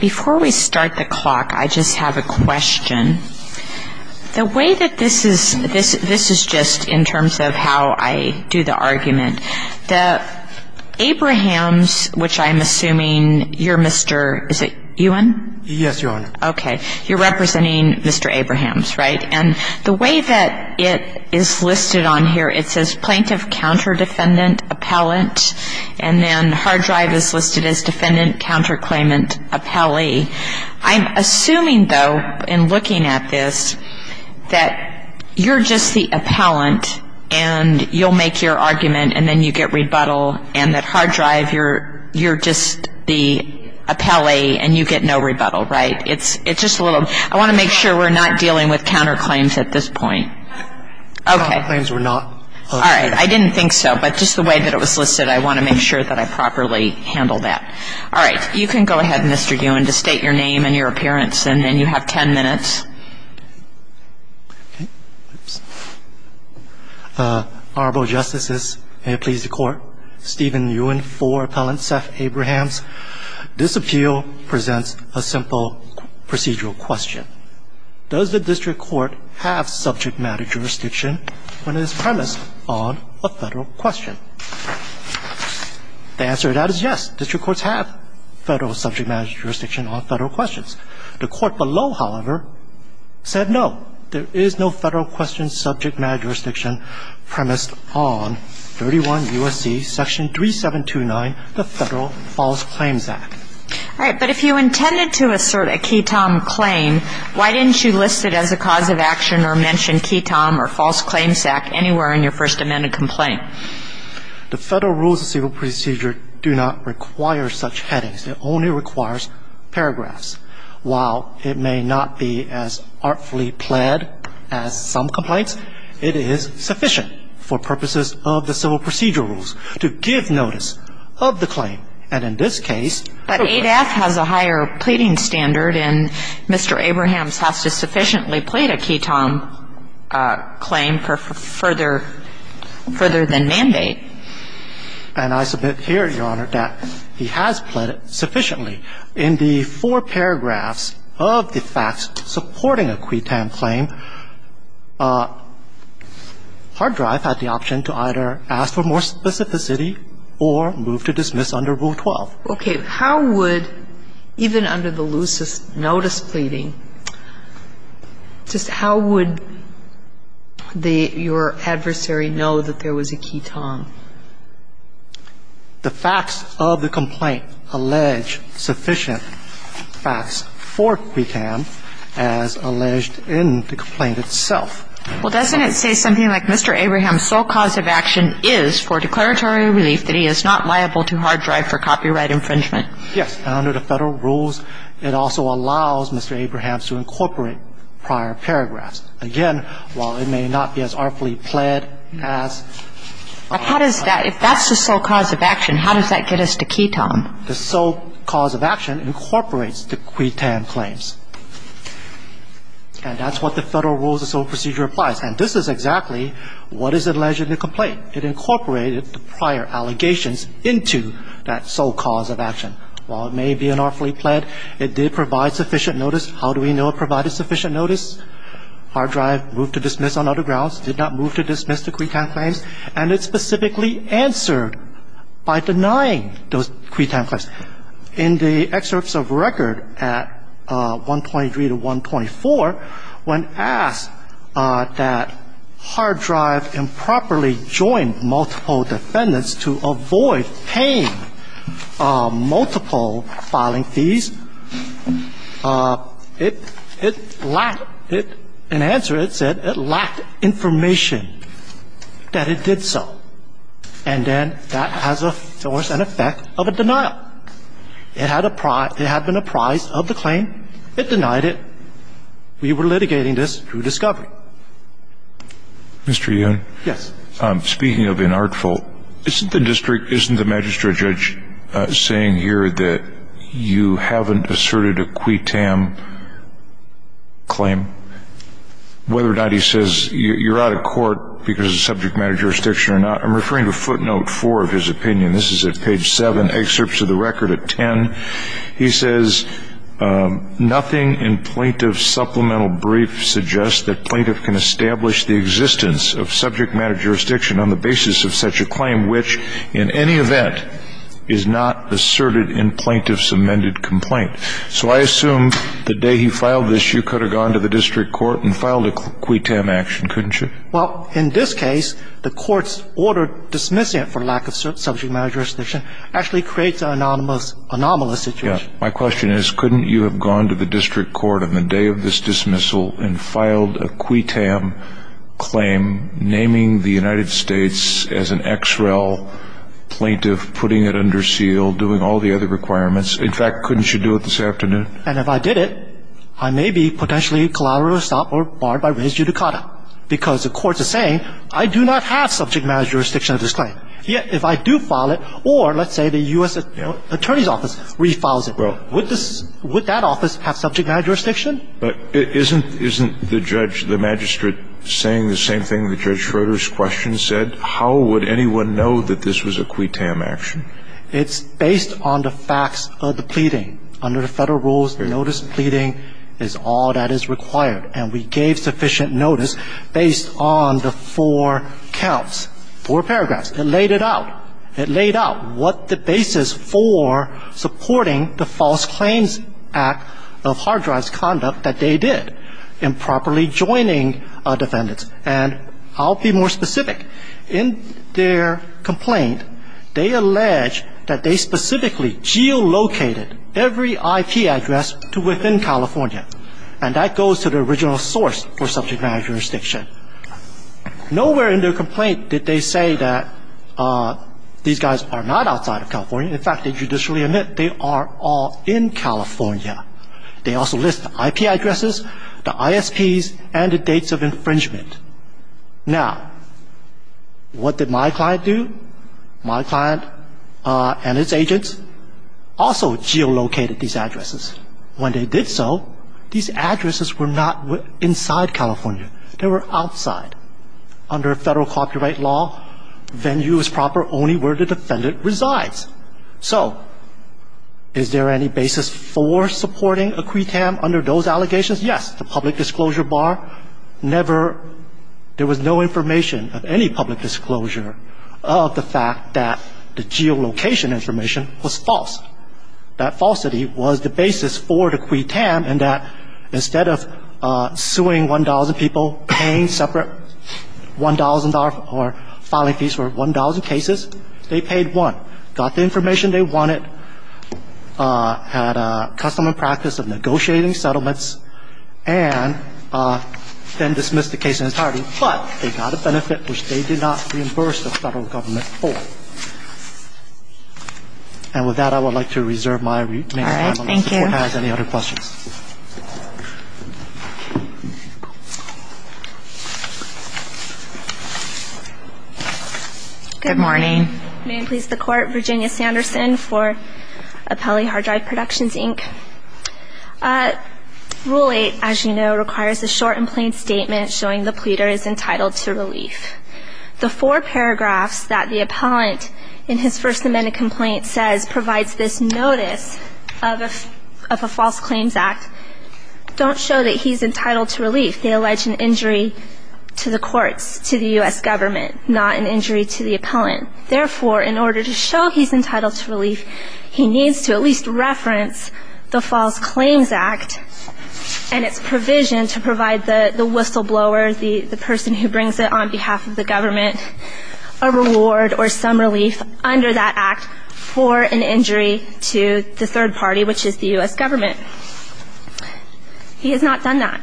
Before we start the clock, I just have a question. The way that this is, this is just in terms of how I do the argument. The Abrahams, which I'm assuming you're Mr., is it Ewan? Yes, Your Honor. Okay, you're representing Mr. Abrahams, right? And the way that it is listed on here, it says Plaintiff, Counter Defendant, Appellant. And then Hard Drive is listed as Defendant, Counter Claimant, Appellee. I'm assuming, though, in looking at this, that you're just the appellant and you'll make your argument and then you get rebuttal and that Hard Drive, you're just the appellee and you get no rebuttal, right? It's just a little, I want to make sure we're not dealing with counterclaims at this point. Counterclaims we're not. All right. I didn't think so, but just the way that it was listed, I want to make sure that I properly handle that. All right. You can go ahead, Mr. Ewan, to state your name and your appearance, and then you have ten minutes. Okay. Honorable Justices, may it please the Court, Stephen Ewan for Appellant Seth Abrahams. This appeal presents a simple procedural question. Does the district court have subject matter jurisdiction when it is premised on a Federal question? The answer to that is yes. District courts have Federal subject matter jurisdiction on Federal questions. The Court below, however, said no. There is no Federal question subject matter jurisdiction premised on 31 U.S.C. Section 3729, the Federal False Claims Act. All right. But if you intended to assert a Ketom claim, why didn't you list it as a cause of action or mention Ketom or False Claims Act anywhere in your First Amendment complaint? The Federal Rules of Civil Procedure do not require such headings. It only requires paragraphs. While it may not be as artfully plaid as some complaints, it is sufficient for purposes of the Civil Procedure Rules to give notice of the claim. And in this case ---- But ADAF has a higher pleading standard, and Mr. Abrahams has to sufficiently plead a Ketom claim for further than mandate. And I submit here, Your Honor, that he has pleaded sufficiently. In the four paragraphs of the facts supporting a Ketom claim, Hard Drive had the option to either ask for more specificity or move to dismiss under Rule 12. Okay. How would, even under the loosest notice pleading, just how would the ---- your adversary know that there was a Ketom? The facts of the complaint allege sufficient facts for Ketom as alleged in the complaint itself. Well, doesn't it say something like Mr. Abrahams' sole cause of action is for declaratory relief that he is not liable to Hard Drive for copyright infringement? Yes. And under the Federal Rules, it also allows Mr. Abrahams to incorporate prior paragraphs. Again, while it may not be as artfully plaid as ---- But how does that ---- if that's the sole cause of action, how does that get us to Ketom? The sole cause of action incorporates the Quitan claims. And that's what the Federal Rules of Sole Procedure applies. And this is exactly what is alleged in the complaint. It incorporated the prior allegations into that sole cause of action. While it may be unartfully plaid, it did provide sufficient notice. How do we know it provided sufficient notice? Hard Drive moved to dismiss on other grounds, did not move to dismiss the Quitan claims, and it specifically answered by denying those Quitan claims. In the excerpts of record at 123 to 124, when asked that Hard Drive improperly joined multiple defendants to avoid paying multiple filing fees, it lacked ---- in answer, it said it lacked information that it did so. And then that has a force and effect of a denial. It had a ---- it had been apprised of the claim. It denied it. We were litigating this through discovery. Mr. Yoon? Yes. Speaking of inartful, isn't the district, isn't the magistrate judge saying here that you haven't asserted a Quitan claim? Whether or not he says you're out of court because of subject matter jurisdiction or not, I'm referring to footnote four of his opinion. This is at page seven, excerpts of the record at 10. He says, nothing in plaintiff's supplemental brief suggests that plaintiff can establish the existence of subject matter jurisdiction on the basis of such a claim, which in any event is not asserted in plaintiff's amended complaint. So I assume the day he filed this, you could have gone to the district court and filed a Quitan action, couldn't you? Well, in this case, the court's order dismissing it for lack of subject matter jurisdiction actually creates an anomalous situation. My question is, couldn't you have gone to the district court on the day of this dismissal and filed a Quitan claim, naming the United States as an XREL plaintiff, putting it under seal, doing all the other requirements? In fact, couldn't you do it this afternoon? And if I did it, I may be potentially collateral stop or barred by res judicata because the court is saying, I do not have subject matter jurisdiction of this claim. Yet if I do file it, or let's say the U.S. Attorney's Office refiles it, would that office have subject matter jurisdiction? But isn't the judge, the magistrate, saying the same thing that Judge Schroeder's question said? How would anyone know that this was a Quitan action? It's based on the facts of the pleading. Under the federal rules, notice pleading is all that is required. And we gave sufficient notice based on the four counts, four paragraphs. It laid it out. It laid out what the basis for supporting the false claims act of hard drives conduct that they did in properly joining defendants. And I'll be more specific. In their complaint, they allege that they specifically geolocated every IP address to within California. And that goes to the original source for subject matter jurisdiction. Nowhere in their complaint did they say that these guys are not outside of California. In fact, they judicially admit they are all in California. They also list the IP addresses, the ISPs, and the dates of infringement. Now, what did my client do? My client and its agents also geolocated these addresses. When they did so, these addresses were not inside California. They were outside. Under federal copyright law, venue is proper only where the defendant resides. So is there any basis for supporting a quitan under those allegations? Yes. The public disclosure bar never, there was no information of any public disclosure of the fact that the geolocation information was false. That falsity was the basis for the quitan and that instead of suing 1,000 people, paying separate $1,000 or filing fees for 1,000 cases, they paid one. And that was the basis for the quitan. the plaintiff did not have the information they wanted, had a custom and practice of negotiating settlements, and then dismissed the case in its entirety. But they got a benefit, which they did not reimburse the federal government for. And with that, I would like to reserve my remaining time. All right. Thank you. If the Court has any other questions. Good morning. May it please the Court. Virginia Sanderson for Appellee Hard Drive Productions, Inc. Rule 8, as you know, requires a short and plain statement showing the pleader is entitled to relief. The four paragraphs that the appellant in his First Amendment complaint says provides this notice of a false claims act don't show that he's entitled to relief. They allege an injury to the courts, to the U.S. government, not an injury to the appellant. Therefore, in order to show he's entitled to relief, he needs to at least reference the False Claims Act and its provision to provide the whistleblower, the person who brings it on behalf of the government, a reward or some relief under that act for an injury to the third party, which is the U.S. government. He has not done that.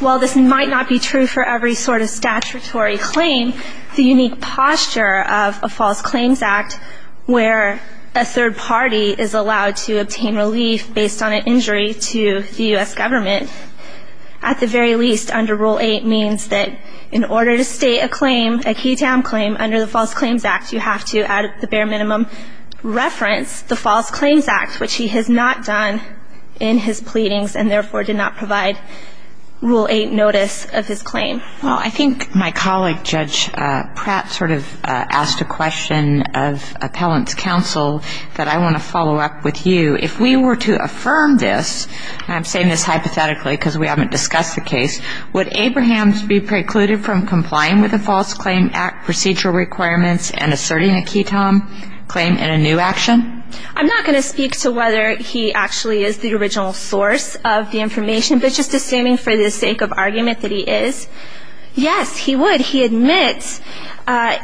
While this might not be true for every sort of statutory claim, the unique posture of a False Claims Act where a third party is allowed to obtain relief based on an injury to the U.S. government, at the very least under Rule 8 means that in order to state a claim, a key town claim, under the False Claims Act you have to at the bare minimum reference the False Claims Act, which he has not done in his pleadings and therefore did not provide Rule 8 notice of his claim. Well, I think my colleague, Judge Pratt, sort of asked a question of appellant's counsel that I want to follow up with you. If we were to affirm this, and I'm saying this hypothetically because we haven't discussed the case, would Abrahams be precluded from complying with the False Claims Act procedural requirements and asserting a key town claim in a new action? I'm not going to speak to whether he actually is the original source of the information, but just assuming for the sake of argument that he is, yes, he would. He admits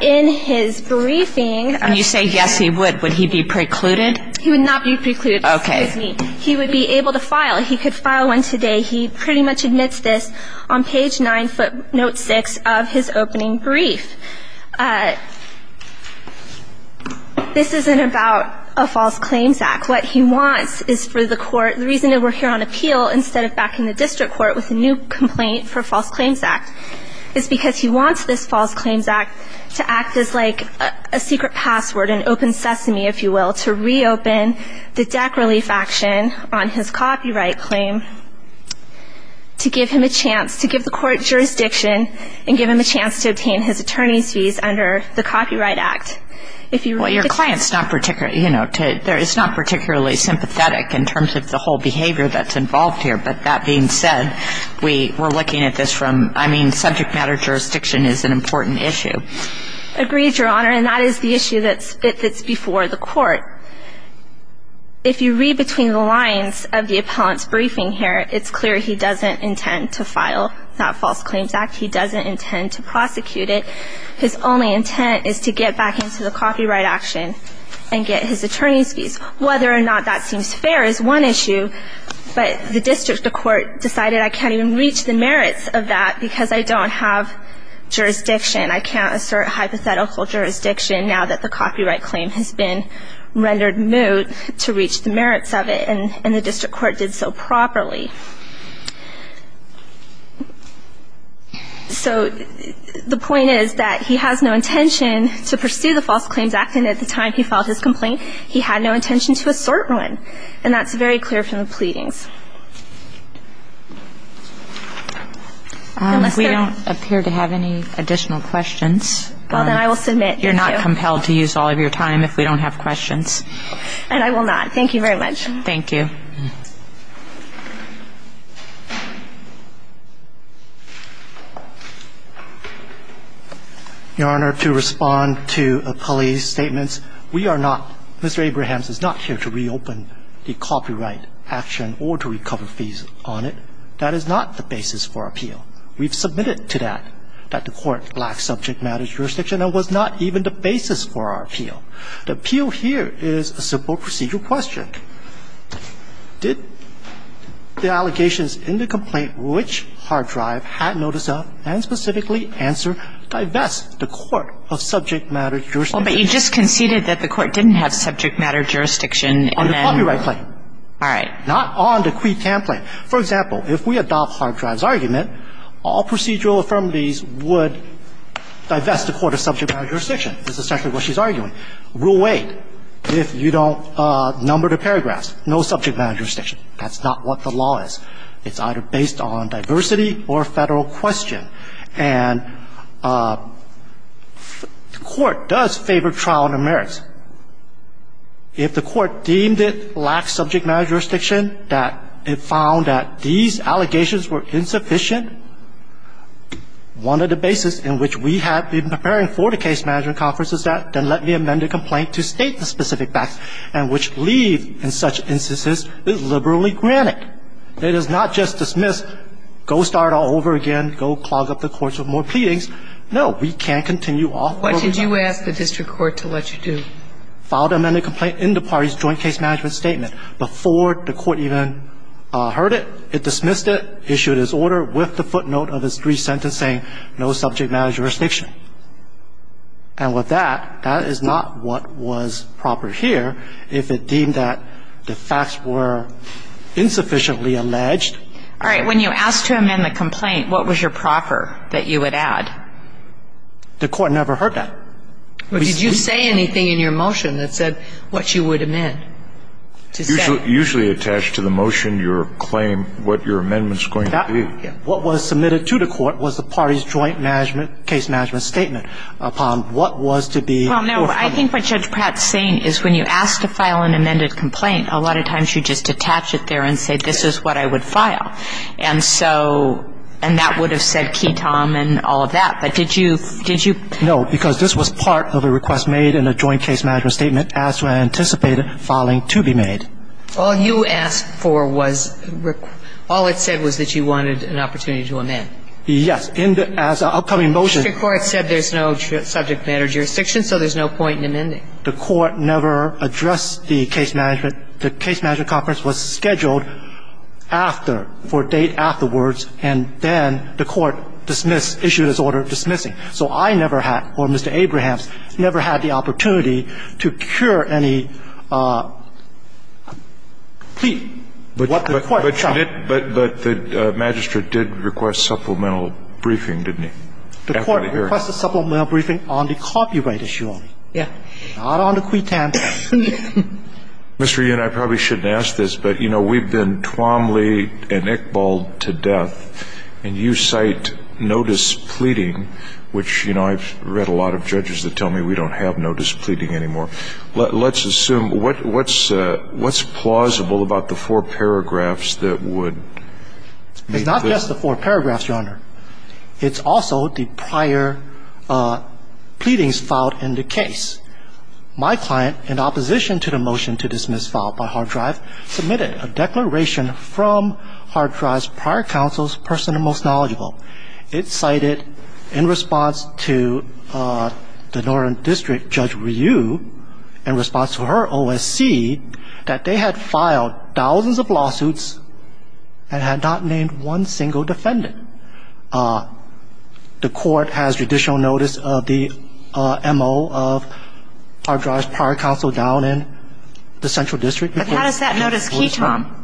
in his briefing. When you say yes, he would, would he be precluded? He would not be precluded. Okay. Excuse me. He would be able to file. He could file one today. He pretty much admits this on page 9, footnote 6 of his opening brief. This isn't about a False Claims Act. What he wants is for the court, the reason that we're here on appeal instead of back in the district court with a new complaint for False Claims Act is because he wants this False Claims Act to act as like a secret password, an open sesame, if you will, to reopen the debt relief action on his copyright claim to give him a chance, to give the court jurisdiction and give him a chance to obtain his attorney's fees under the Copyright Act. Well, your client is not particularly sympathetic in terms of the whole behavior that's involved here, but that being said, we're looking at this from, I mean, subject matter jurisdiction is an important issue. Agreed, Your Honor. And that is the issue that's before the court. If you read between the lines of the appellant's briefing here, it's clear he doesn't intend to file that False Claims Act. He doesn't intend to prosecute it. His only intent is to get back into the copyright action and get his attorney's fees. Whether or not that seems fair is one issue, but the district, the court, decided I can't even reach the merits of that because I don't have jurisdiction. I can't assert hypothetical jurisdiction now that the copyright claim has been rendered moot to reach the merits of it, and the district court did so properly. So the point is that he has no intention to pursue the False Claims Act, and at the time he filed his complaint, he had no intention to assert one, and that's very clear from the pleadings. We don't appear to have any additional questions. Well, then I will submit. You're not compelled to use all of your time if we don't have questions. And I will not. Thank you very much. Thank you. Your Honor, to respond to a police statement, we are not Mr. We have submitted to that that the court lacked subject matter jurisdiction and was not even the basis for our appeal. The appeal here is a simple procedural question. Did the allegations in the complaint, which hard drive had notice of and specifically answer, divest the court of subject matter jurisdiction? Well, but you just conceded that the court didn't have subject matter jurisdiction on the copyright claim. All right. Not on the quid tam plain. For example, if we adopt hard drive's argument, all procedural affirmative would divest the court of subject matter jurisdiction. That's essentially what she's arguing. Rule 8, if you don't number the paragraphs, no subject matter jurisdiction. That's not what the law is. It's either based on diversity or Federal question. And the court does favor trial and merits. If the court deemed it lacked subject matter jurisdiction, that it found that these allegations were insufficient, one of the basis in which we have been preparing for the case management conference is that, then let me amend the complaint to state the specific facts, and which leave, in such instances, is liberally granted. It is not just dismissed, go start all over again, go clog up the courts with more pleadings. No, we can continue all four. What did you ask the district court to let you do? File the amended complaint in the party's joint case management statement. Before the court even heard it, it dismissed it, issued its order with the footnote of its three sentences saying no subject matter jurisdiction. And with that, that is not what was proper here. If it deemed that the facts were insufficiently alleged. All right. When you asked to amend the complaint, what was your proper that you would add? The court never heard that. Did you say anything in your motion that said what you would amend? Usually attached to the motion, your claim, what your amendment is going to be. What was submitted to the court was the party's joint case management statement upon what was to be. I think what Judge Pratt is saying is when you ask to file an amended complaint, a lot of times you just attach it there and say this is what I would file. And so, and that would have said key Tom and all of that. But did you, did you? No, because this was part of a request made in a joint case management statement as to an anticipated filing to be made. All you asked for was, all it said was that you wanted an opportunity to amend. Yes. As an upcoming motion. The court said there's no subject matter jurisdiction, so there's no point in amending. The court never addressed the case management. The case management conference was scheduled after, for a date afterwards, and then the court dismissed, issued its order of dismissing. So I never had, or Mr. Abrahams never had the opportunity to cure any plea. But the magistrate did request supplemental briefing, didn't he? The court requested supplemental briefing on the copyright issue only. Yeah. Not on the quid tan. Mr. Yuen, I probably shouldn't ask this, but, you know, we've been Twombly and Iqbal to death, and you cite no displeading, which, you know, I've read a lot of judges that tell me we don't have no displeading anymore. Let's assume, what's plausible about the four paragraphs that would? It's not just the four paragraphs, Your Honor. It's also the prior pleadings filed in the case. My client, in opposition to the motion to dismiss filed by Hard Drive, submitted a declaration from Hard Drive's prior counsel's person of most knowledgeable. It cited, in response to the Northern District Judge Ryu, in response to her OSC, that they had filed thousands of lawsuits and had not named one single defendant. The court has judicial notice of the MO of Hard Drive's prior counsel down in the Central District. But how does that notice keep, Tom?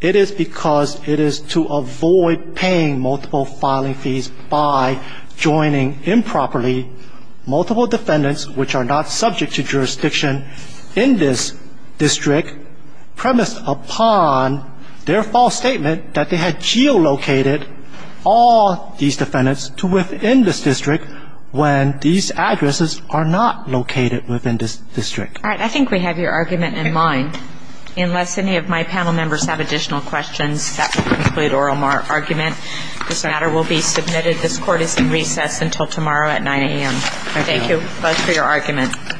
It is because it is to avoid paying multiple filing fees by joining improperly multiple defendants, which are not subject to jurisdiction in this district, premised upon their false statement that they had geolocated all these defendants to within this district when these addresses are not located within this district. All right. I think we have your argument in mind. Unless any of my panel members have additional questions, that will conclude oral argument. This matter will be submitted. This court is in recess until tomorrow at 9 a.m. Thank you both for your argument.